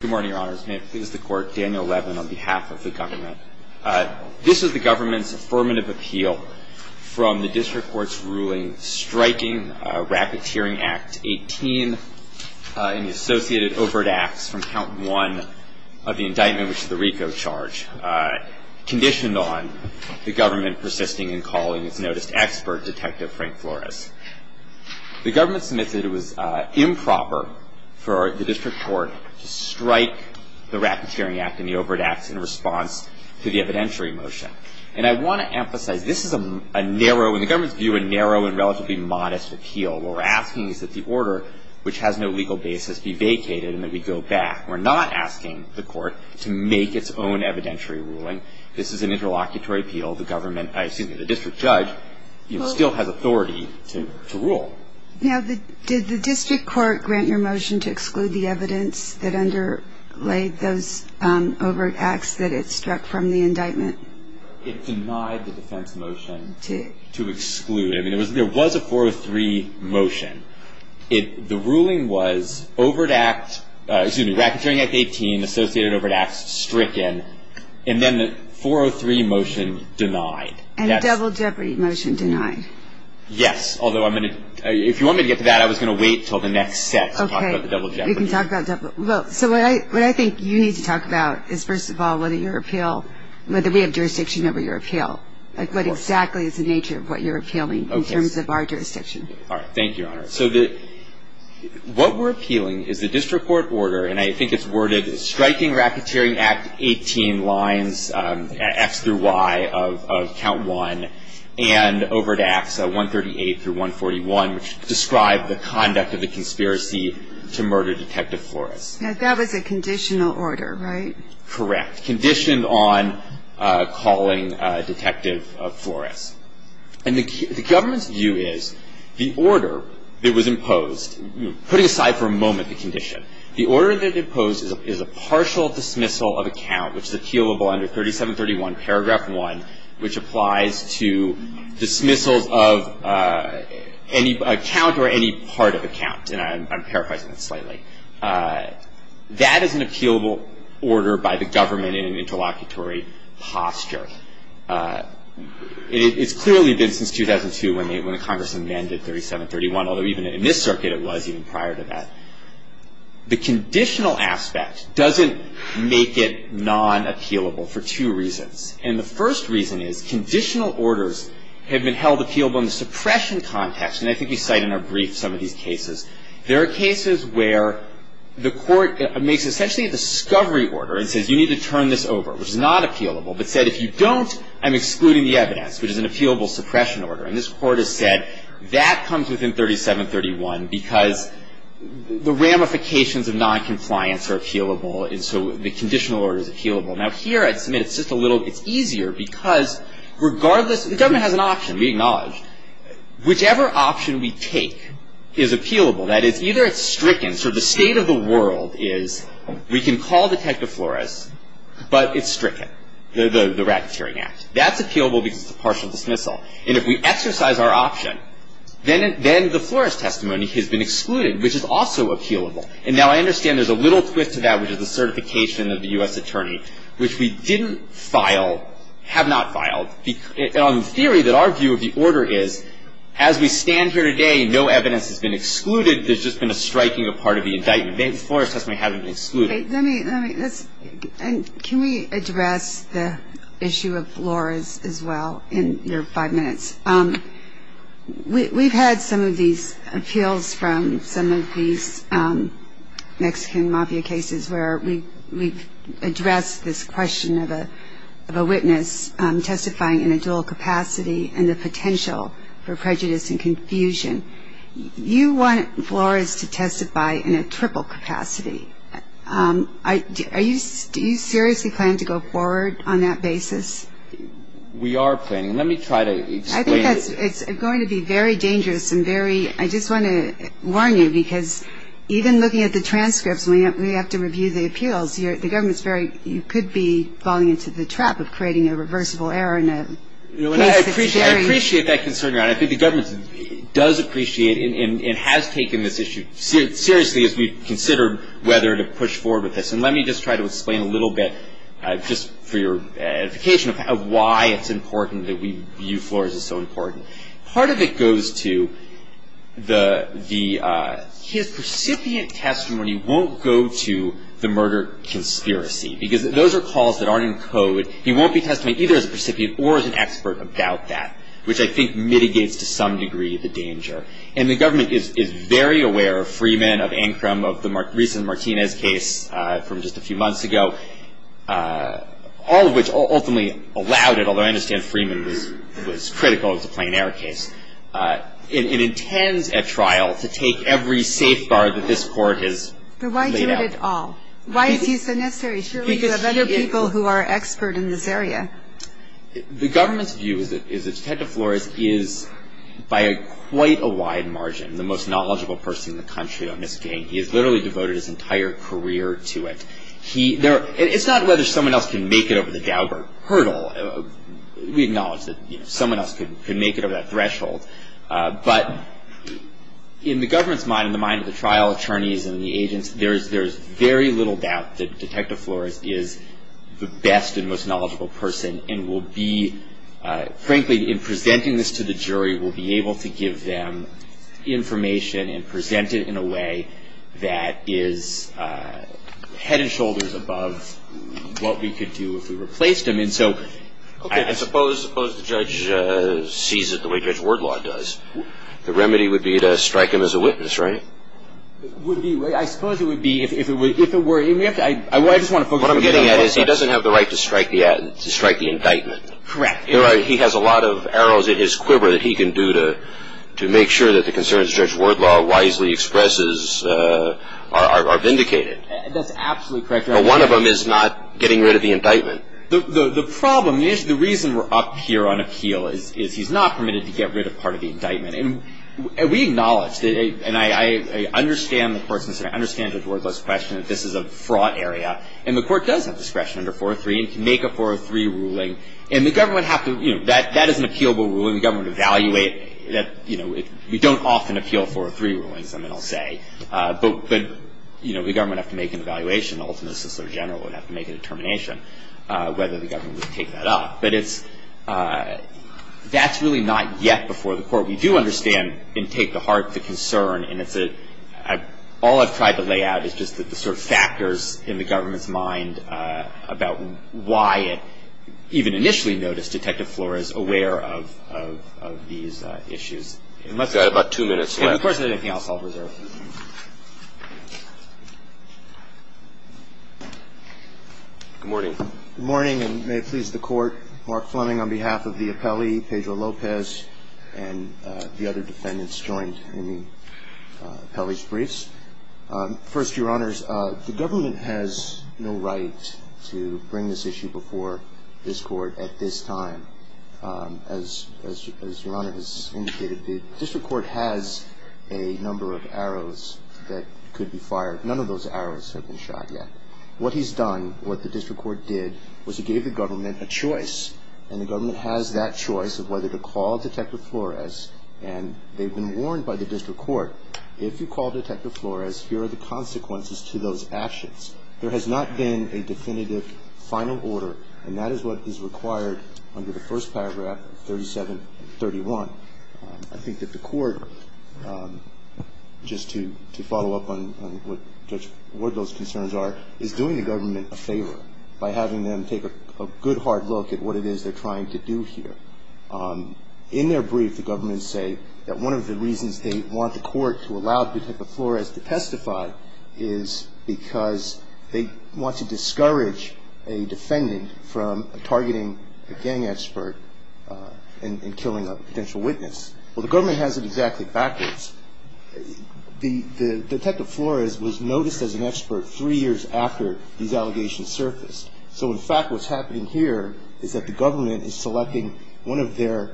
Good morning, Your Honors. May it please the Court, Daniel Levin on behalf of the government. This is the government's affirmative appeal from the District Court's ruling striking Rapid-Tiering Act 18 and the associated overt acts from Count 1 of the indictment, which is the RICO charge, conditioned on the government persisting in calling its noticed expert, Detective Frank Flores. The government submits that it was improper for the District Court to strike the Rapid-Tiering Act and the overt acts in response to the evidentiary motion. And I want to emphasize this is a narrow, in the government's view, a narrow and relatively modest appeal. What we're asking is that the order, which has no legal basis, be vacated and that we go back. We're not asking the court to make its own evidentiary ruling. This is an interlocutory appeal. The government, excuse me, the district judge still has authority to rule. Now, did the District Court grant your motion to exclude the evidence that underlay those overt acts that it struck from the indictment? It denied the defense motion to exclude. I mean, there was a 403 motion. The ruling was Rapid-Tiering Act 18, associated overt acts stricken. And then the 403 motion denied. And double jeopardy motion denied. Yes. Although I'm going to, if you want me to get to that, I was going to wait until the next set to talk about the double jeopardy. Okay. We can talk about double. Well, so what I think you need to talk about is, first of all, whether your appeal, whether we have jurisdiction over your appeal. Like, what exactly is the nature of what you're appealing in terms of our jurisdiction? All right. Thank you, Your Honor. So what we're appealing is the District Court order, and I think it's worded striking Rapid-Tiering Act 18 lines, F through Y of count one, and overt acts 138 through 141, which describe the conduct of the conspiracy to murder Detective Flores. Now, that was a conditional order, right? Correct. Conditioned on calling Detective Flores. And the government's view is the order that was imposed, putting aside for a moment the condition, the order that it imposed is a partial dismissal of account, which is appealable under 3731 paragraph one, which applies to dismissals of any account or any part of account. And I'm paraphrasing that slightly. That is an appealable order by the government in an interlocutory posture. It's clearly been since 2002 when Congress amended 3731, although even in this circuit it was even prior to that. The conditional aspect doesn't make it non-appealable for two reasons. And the first reason is conditional orders have been held appealable in the suppression context, and I think we cite in our brief some of these cases. There are cases where the court makes essentially a discovery order and says you need to turn this over, which is not appealable, but said if you don't, I'm excluding the evidence, which is an appealable suppression order. And this court has said that comes within 3731 because the ramifications of noncompliance are appealable, and so the conditional order is appealable. Now, here at Smith, it's just a little, it's easier because regardless, the government has an option, we acknowledge. Whichever option we take is appealable. That is, either it's stricken, sort of the state of the world is we can call Detective Flores, but it's stricken, the racketeering act. That's appealable because it's a partial dismissal. And if we exercise our option, then the Flores testimony has been excluded, which is also appealable. And now I understand there's a little twist to that, which is the certification of the U.S. attorney, which we didn't file, have not filed, on the theory that our view of the order is as we stand here today, no evidence has been excluded, there's just been a striking of part of the indictment. Flores testimony hasn't been excluded. Can we address the issue of Flores as well in your five minutes? We've had some of these appeals from some of these Mexican mafia cases where we've addressed this question of a witness testifying in a dual capacity and the potential for prejudice and confusion. You want Flores to testify in a triple capacity. Do you seriously plan to go forward on that basis? We are planning. Let me try to explain. I think it's going to be very dangerous and very, I just want to warn you, because even looking at the transcripts when we have to review the appeals, the government's very, you could be falling into the trap of creating a reversible error in a case that's very. I appreciate that concern, Your Honor. I think the government does appreciate and has taken this issue seriously as we've considered whether to push forward with this. And let me just try to explain a little bit just for your edification of why it's important that we view Flores as so important. Part of it goes to the, his recipient testimony won't go to the murder conspiracy, he won't be testifying either as a recipient or as an expert about that, which I think mitigates to some degree the danger. And the government is very aware of Freeman, of Ancrum, of the recent Martinez case from just a few months ago, all of which ultimately allowed it, although I understand Freeman was critical of the Plain Air case. It intends at trial to take every safeguard that this Court has laid out. But why do it at all? Why is he so necessary? Surely you have other people who are expert in this area. The government's view is that Detective Flores is, by quite a wide margin, the most knowledgeable person in the country on this case. He has literally devoted his entire career to it. It's not whether someone else can make it over the Gaubert hurdle. We acknowledge that someone else could make it over that threshold. But in the government's mind, in the mind of the trial attorneys and the agents, there's very little doubt that Detective Flores is the best and most knowledgeable person and will be, frankly, in presenting this to the jury, will be able to give them information and present it in a way that is head and shoulders above what we could do if we replaced him. I suppose the judge sees it the way Judge Wordlaw does. The remedy would be to strike him as a witness, right? I suppose it would be if it were. What I'm getting at is he doesn't have the right to strike the indictment. Correct. He has a lot of arrows in his quiver that he can do to make sure that the concerns Judge Wordlaw wisely expresses are vindicated. That's absolutely correct. But one of them is not getting rid of the indictment. The problem is, the reason we're up here on appeal is he's not permitted to get rid of part of the indictment. And we acknowledge, and I understand the person, I understand Judge Wordlaw's question, that this is a fraught area. And the court does have discretion under 403 and can make a 403 ruling. And the government would have to, you know, that is an appealable ruling. The government would evaluate that, you know, you don't often appeal 403 rulings, I mean, I'll say. But, you know, the government would have to make an evaluation. The ultimate assistant general would have to make a determination whether the government would take that up. But it's – that's really not yet before the court. We do understand and take to heart the concern. And it's a – all I've tried to lay out is just the sort of factors in the government's mind about why it even initially noticed Detective Flores aware of these issues. You've got about two minutes left. Of course, there's anything else I'll preserve. Good morning. Good morning, and may it please the Court. Mark Fleming on behalf of the appellee, Pedro Lopez, and the other defendants joined in the appellee's briefs. First, Your Honors, the government has no right to bring this issue before this Court at this time. As Your Honor has indicated, the district court has a number of arrows that could be fired. None of those arrows have been shot yet. What he's done, what the district court did, was he gave the government a choice. And the government has that choice of whether to call Detective Flores. And they've been warned by the district court, if you call Detective Flores, here are the consequences to those actions. There has not been a definitive final order, and that is what is required under the first paragraph of 3731. I think that the court, just to follow up on what those concerns are, is doing the government a favor by having them take a good, hard look at what it is they're trying to do here. In their brief, the government say that one of the reasons they want the court to allow Detective Flores to testify is because they want to discourage a defendant from targeting a gang expert and killing a potential witness. Well, the government has it exactly backwards. Detective Flores was noticed as an expert three years after these allegations surfaced. So, in fact, what's happening here is that the government is selecting one of their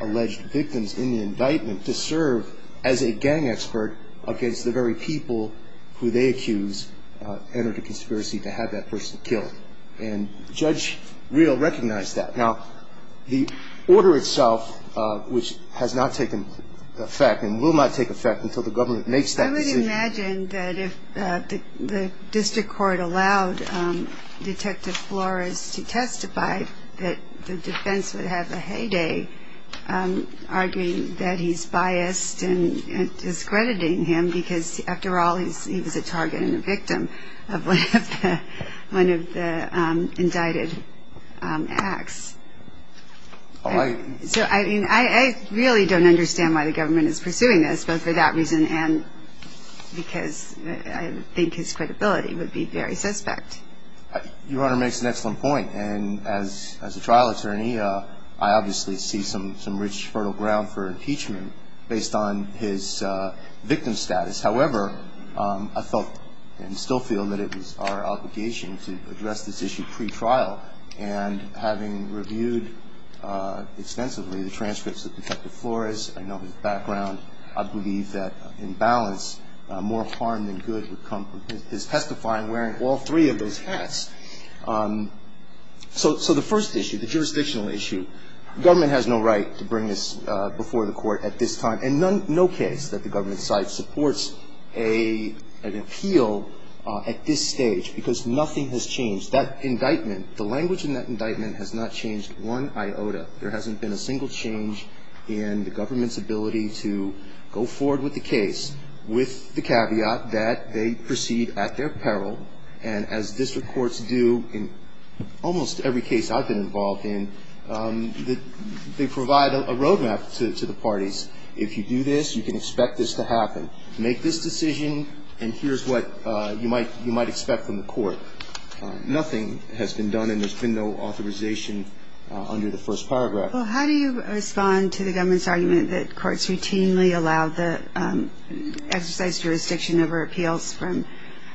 alleged victims in the indictment to serve as a gang expert against the very people who they accuse entered a conspiracy to have that person killed. And Judge Reel recognized that. Now, the order itself, which has not taken effect and will not take effect until the government makes that decision. I would imagine that if the district court allowed Detective Flores to testify, that the defense would have a heyday arguing that he's biased and discrediting him because, after all, he was a target and a victim of one of the indicted acts. So, I mean, I really don't understand why the government is pursuing this, but for that reason and because I think his credibility would be very suspect. Your Honor makes an excellent point. And as a trial attorney, I obviously see some rich, fertile ground for impeachment based on his victim status. However, I felt and still feel that it was our obligation to address this issue pretrial. And having reviewed extensively the transcripts of Detective Flores, I know his background, I believe that, in balance, more harm than good would come from his testifying, and I'm wearing all three of those hats. So the first issue, the jurisdictional issue, government has no right to bring this before the court at this time. And no case that the government decides supports an appeal at this stage because nothing has changed. That indictment, the language in that indictment has not changed one iota. There hasn't been a single change in the government's ability to go forward with the case with the caveat that they proceed at their peril. And as district courts do in almost every case I've been involved in, they provide a roadmap to the parties. If you do this, you can expect this to happen. Make this decision and here's what you might expect from the court. Nothing has been done and there's been no authorization under the first paragraph. Well, how do you respond to the government's argument that courts routinely allow the exercise jurisdiction over appeals from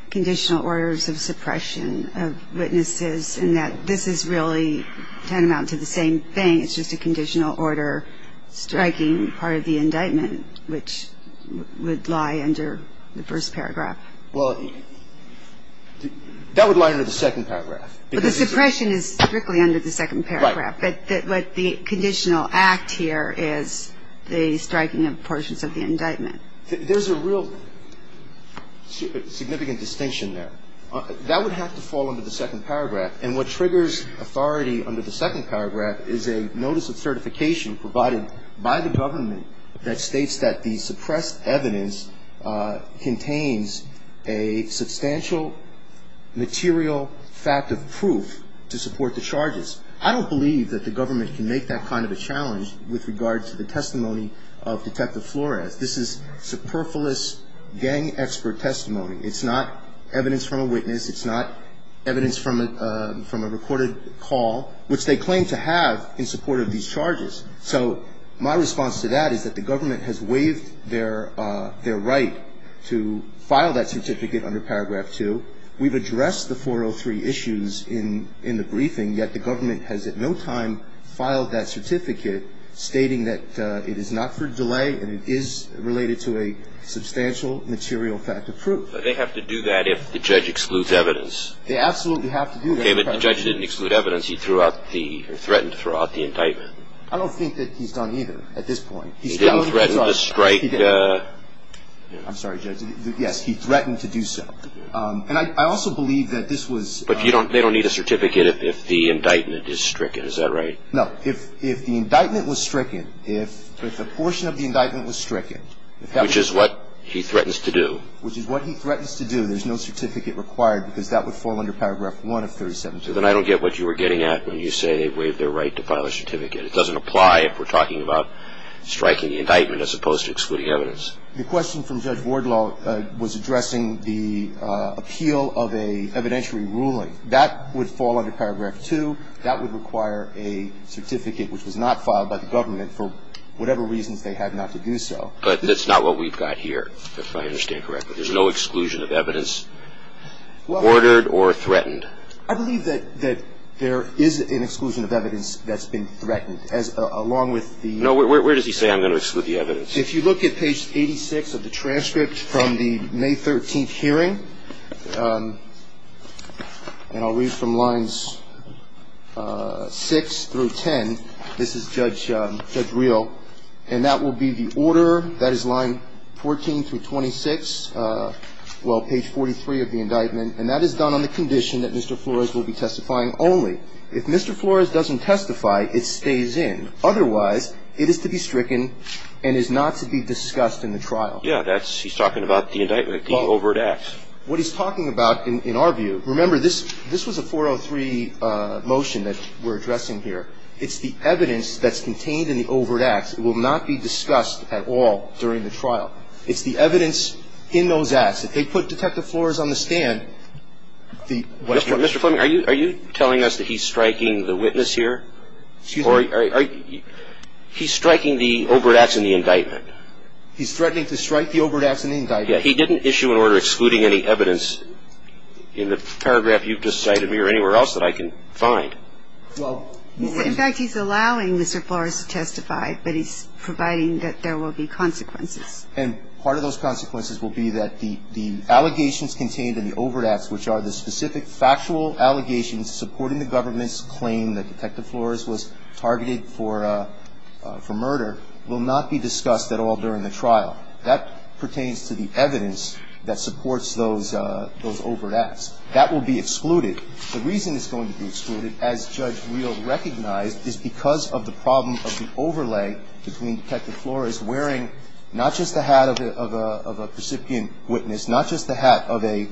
conditional orders of suppression of witnesses and that this is really tantamount to the same thing. It's just a conditional order striking part of the indictment, which would lie under the first paragraph. Well, that would lie under the second paragraph. Well, the suppression is strictly under the second paragraph. Right. But the conditional act here is the striking of portions of the indictment. There's a real significant distinction there. That would have to fall under the second paragraph. And what triggers authority under the second paragraph is a notice of certification by the government that states that the suppressed evidence contains a substantial material fact of proof to support the charges. I don't believe that the government can make that kind of a challenge with regard to the testimony of Detective Flores. This is superfluous gang expert testimony. It's not evidence from a recorded call, which they claim to have in support of these charges. So my response to that is that the government has waived their right to file that certificate under paragraph 2. We've addressed the 403 issues in the briefing, yet the government has at no time filed that certificate, stating that it is not for delay and it is related to a substantial material fact of proof. They have to do that if the judge excludes evidence. They absolutely have to do that. If the judge didn't exclude evidence, he threatened to throw out the indictment. I don't think that he's done either at this point. He didn't threaten to strike. I'm sorry, Judge. Yes, he threatened to do so. And I also believe that this was. But they don't need a certificate if the indictment is stricken. Is that right? No. If the indictment was stricken, if the portion of the indictment was stricken. Which is what he threatens to do. Which is what he threatens to do. There's no certificate required because that would fall under paragraph 1 of 372. Then I don't get what you were getting at when you say they've waived their right to file a certificate. It doesn't apply if we're talking about striking the indictment as opposed to excluding evidence. The question from Judge Wardlaw was addressing the appeal of an evidentiary ruling. That would fall under paragraph 2. That would require a certificate which was not filed by the government for whatever reasons they had not to do so. But that's not what we've got here, if I understand correctly. There's no exclusion of evidence ordered or threatened. I believe that there is an exclusion of evidence that's been threatened along with the. No, where does he say I'm going to exclude the evidence? If you look at page 86 of the transcript from the May 13th hearing, and I'll read from lines 6 through 10. This is Judge Rio, and that will be the order. That is line 14 through 26, well, page 43 of the indictment. And that is done on the condition that Mr. Flores will be testifying only. If Mr. Flores doesn't testify, it stays in. Otherwise, it is to be stricken and is not to be discussed in the trial. Yeah, he's talking about the indictment, the overt act. What he's talking about in our view. Remember, this was a 403 motion that we're addressing here. It's the evidence that's contained in the overt acts. It will not be discussed at all during the trial. It's the evidence in those acts. If they put Detective Flores on the stand, the... Mr. Fleming, are you telling us that he's striking the witness here? Excuse me? He's striking the overt acts in the indictment. He's threatening to strike the overt acts in the indictment. Yeah, he didn't issue an order excluding any evidence in the paragraph you've just cited me or anywhere else that I can find. Well... In fact, he's allowing Mr. Flores to testify, but he's providing that there will be consequences. And part of those consequences will be that the allegations contained in the overt acts, which are the specific factual allegations supporting the government's claim that Detective Flores was targeted for murder, will not be discussed at all during the trial. That pertains to the evidence that supports those overt acts. That will be excluded. The reason it's going to be excluded, as Judge Weill recognized, is because of the problem of the overlay between Detective Flores wearing not just the hat of a recipient witness, not just the hat of a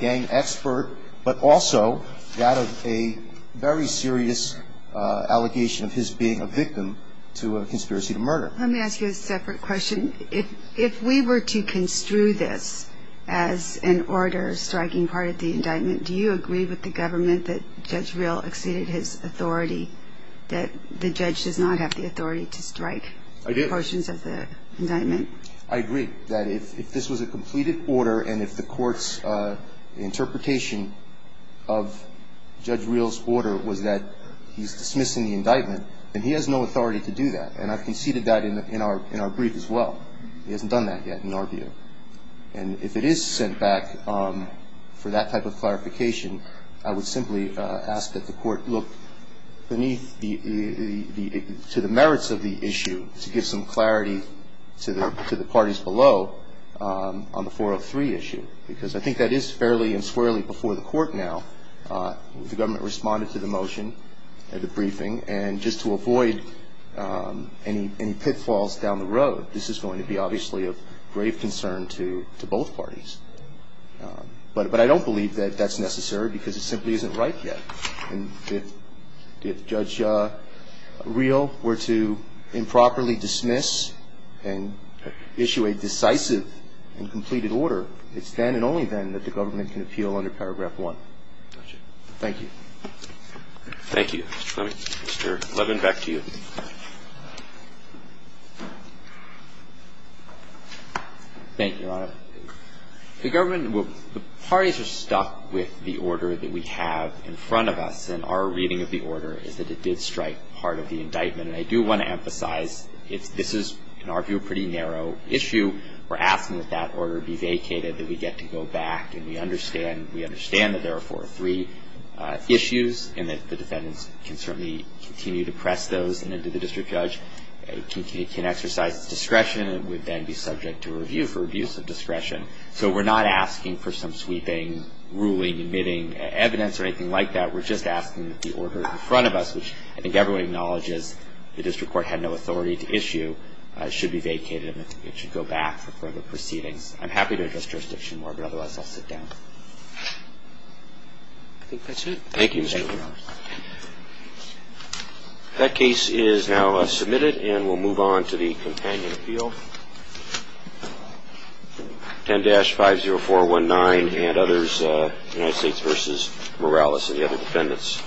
gang expert, but also that of a very serious allegation of his being a victim to a conspiracy to murder. Let me ask you a separate question. If we were to construe this as an order striking part of the indictment, do you agree with the government that Judge Weill exceeded his authority, that the judge does not have the authority to strike portions of the indictment? I do. I agree that if this was a completed order and if the court's interpretation of Judge Weill's order was that he's dismissing the indictment, then he has no authority to do that. And I conceded that in our brief as well. He hasn't done that yet in our view. And if it is sent back for that type of clarification, I would simply ask that the court look beneath the merits of the issue to give some clarity to the parties below on the 403 issue, because I think that is fairly and squarely before the court now. The government responded to the motion at the briefing. And just to avoid any pitfalls down the road, this is going to be obviously of grave concern to both parties. But I don't believe that that's necessary because it simply isn't right yet. And if Judge Weill were to improperly dismiss and issue a decisive and completed order, it's then and only then that the government can appeal under paragraph 1. Thank you. Roberts. Thank you, Mr. Clement. Mr. Levin, back to you. Thank you, Your Honor. The government, the parties are stuck with the order that we have in front of us, and our reading of the order is that it did strike part of the indictment. And I do want to emphasize, this is, in our view, a pretty narrow issue. We're asking that that order be vacated, that we get to go back and we understand that there are 403 issues and that the defendants can certainly continue to press those and that the district judge can exercise discretion and would then be subject to review for abuse of discretion. So we're not asking for some sweeping, ruling, admitting evidence or anything like that. We're just asking that the order in front of us, which I think everyone acknowledges the district court had no authority to issue, should be vacated and it should go back for further proceedings. I'm happy to address jurisdiction more, but otherwise I'll sit down. I think that's it. Thank you, Mr. Levin. Thank you, Your Honor. That case is now submitted and we'll move on to the companion appeal. 10-50419 and others, United States v. Morales and the other defendants.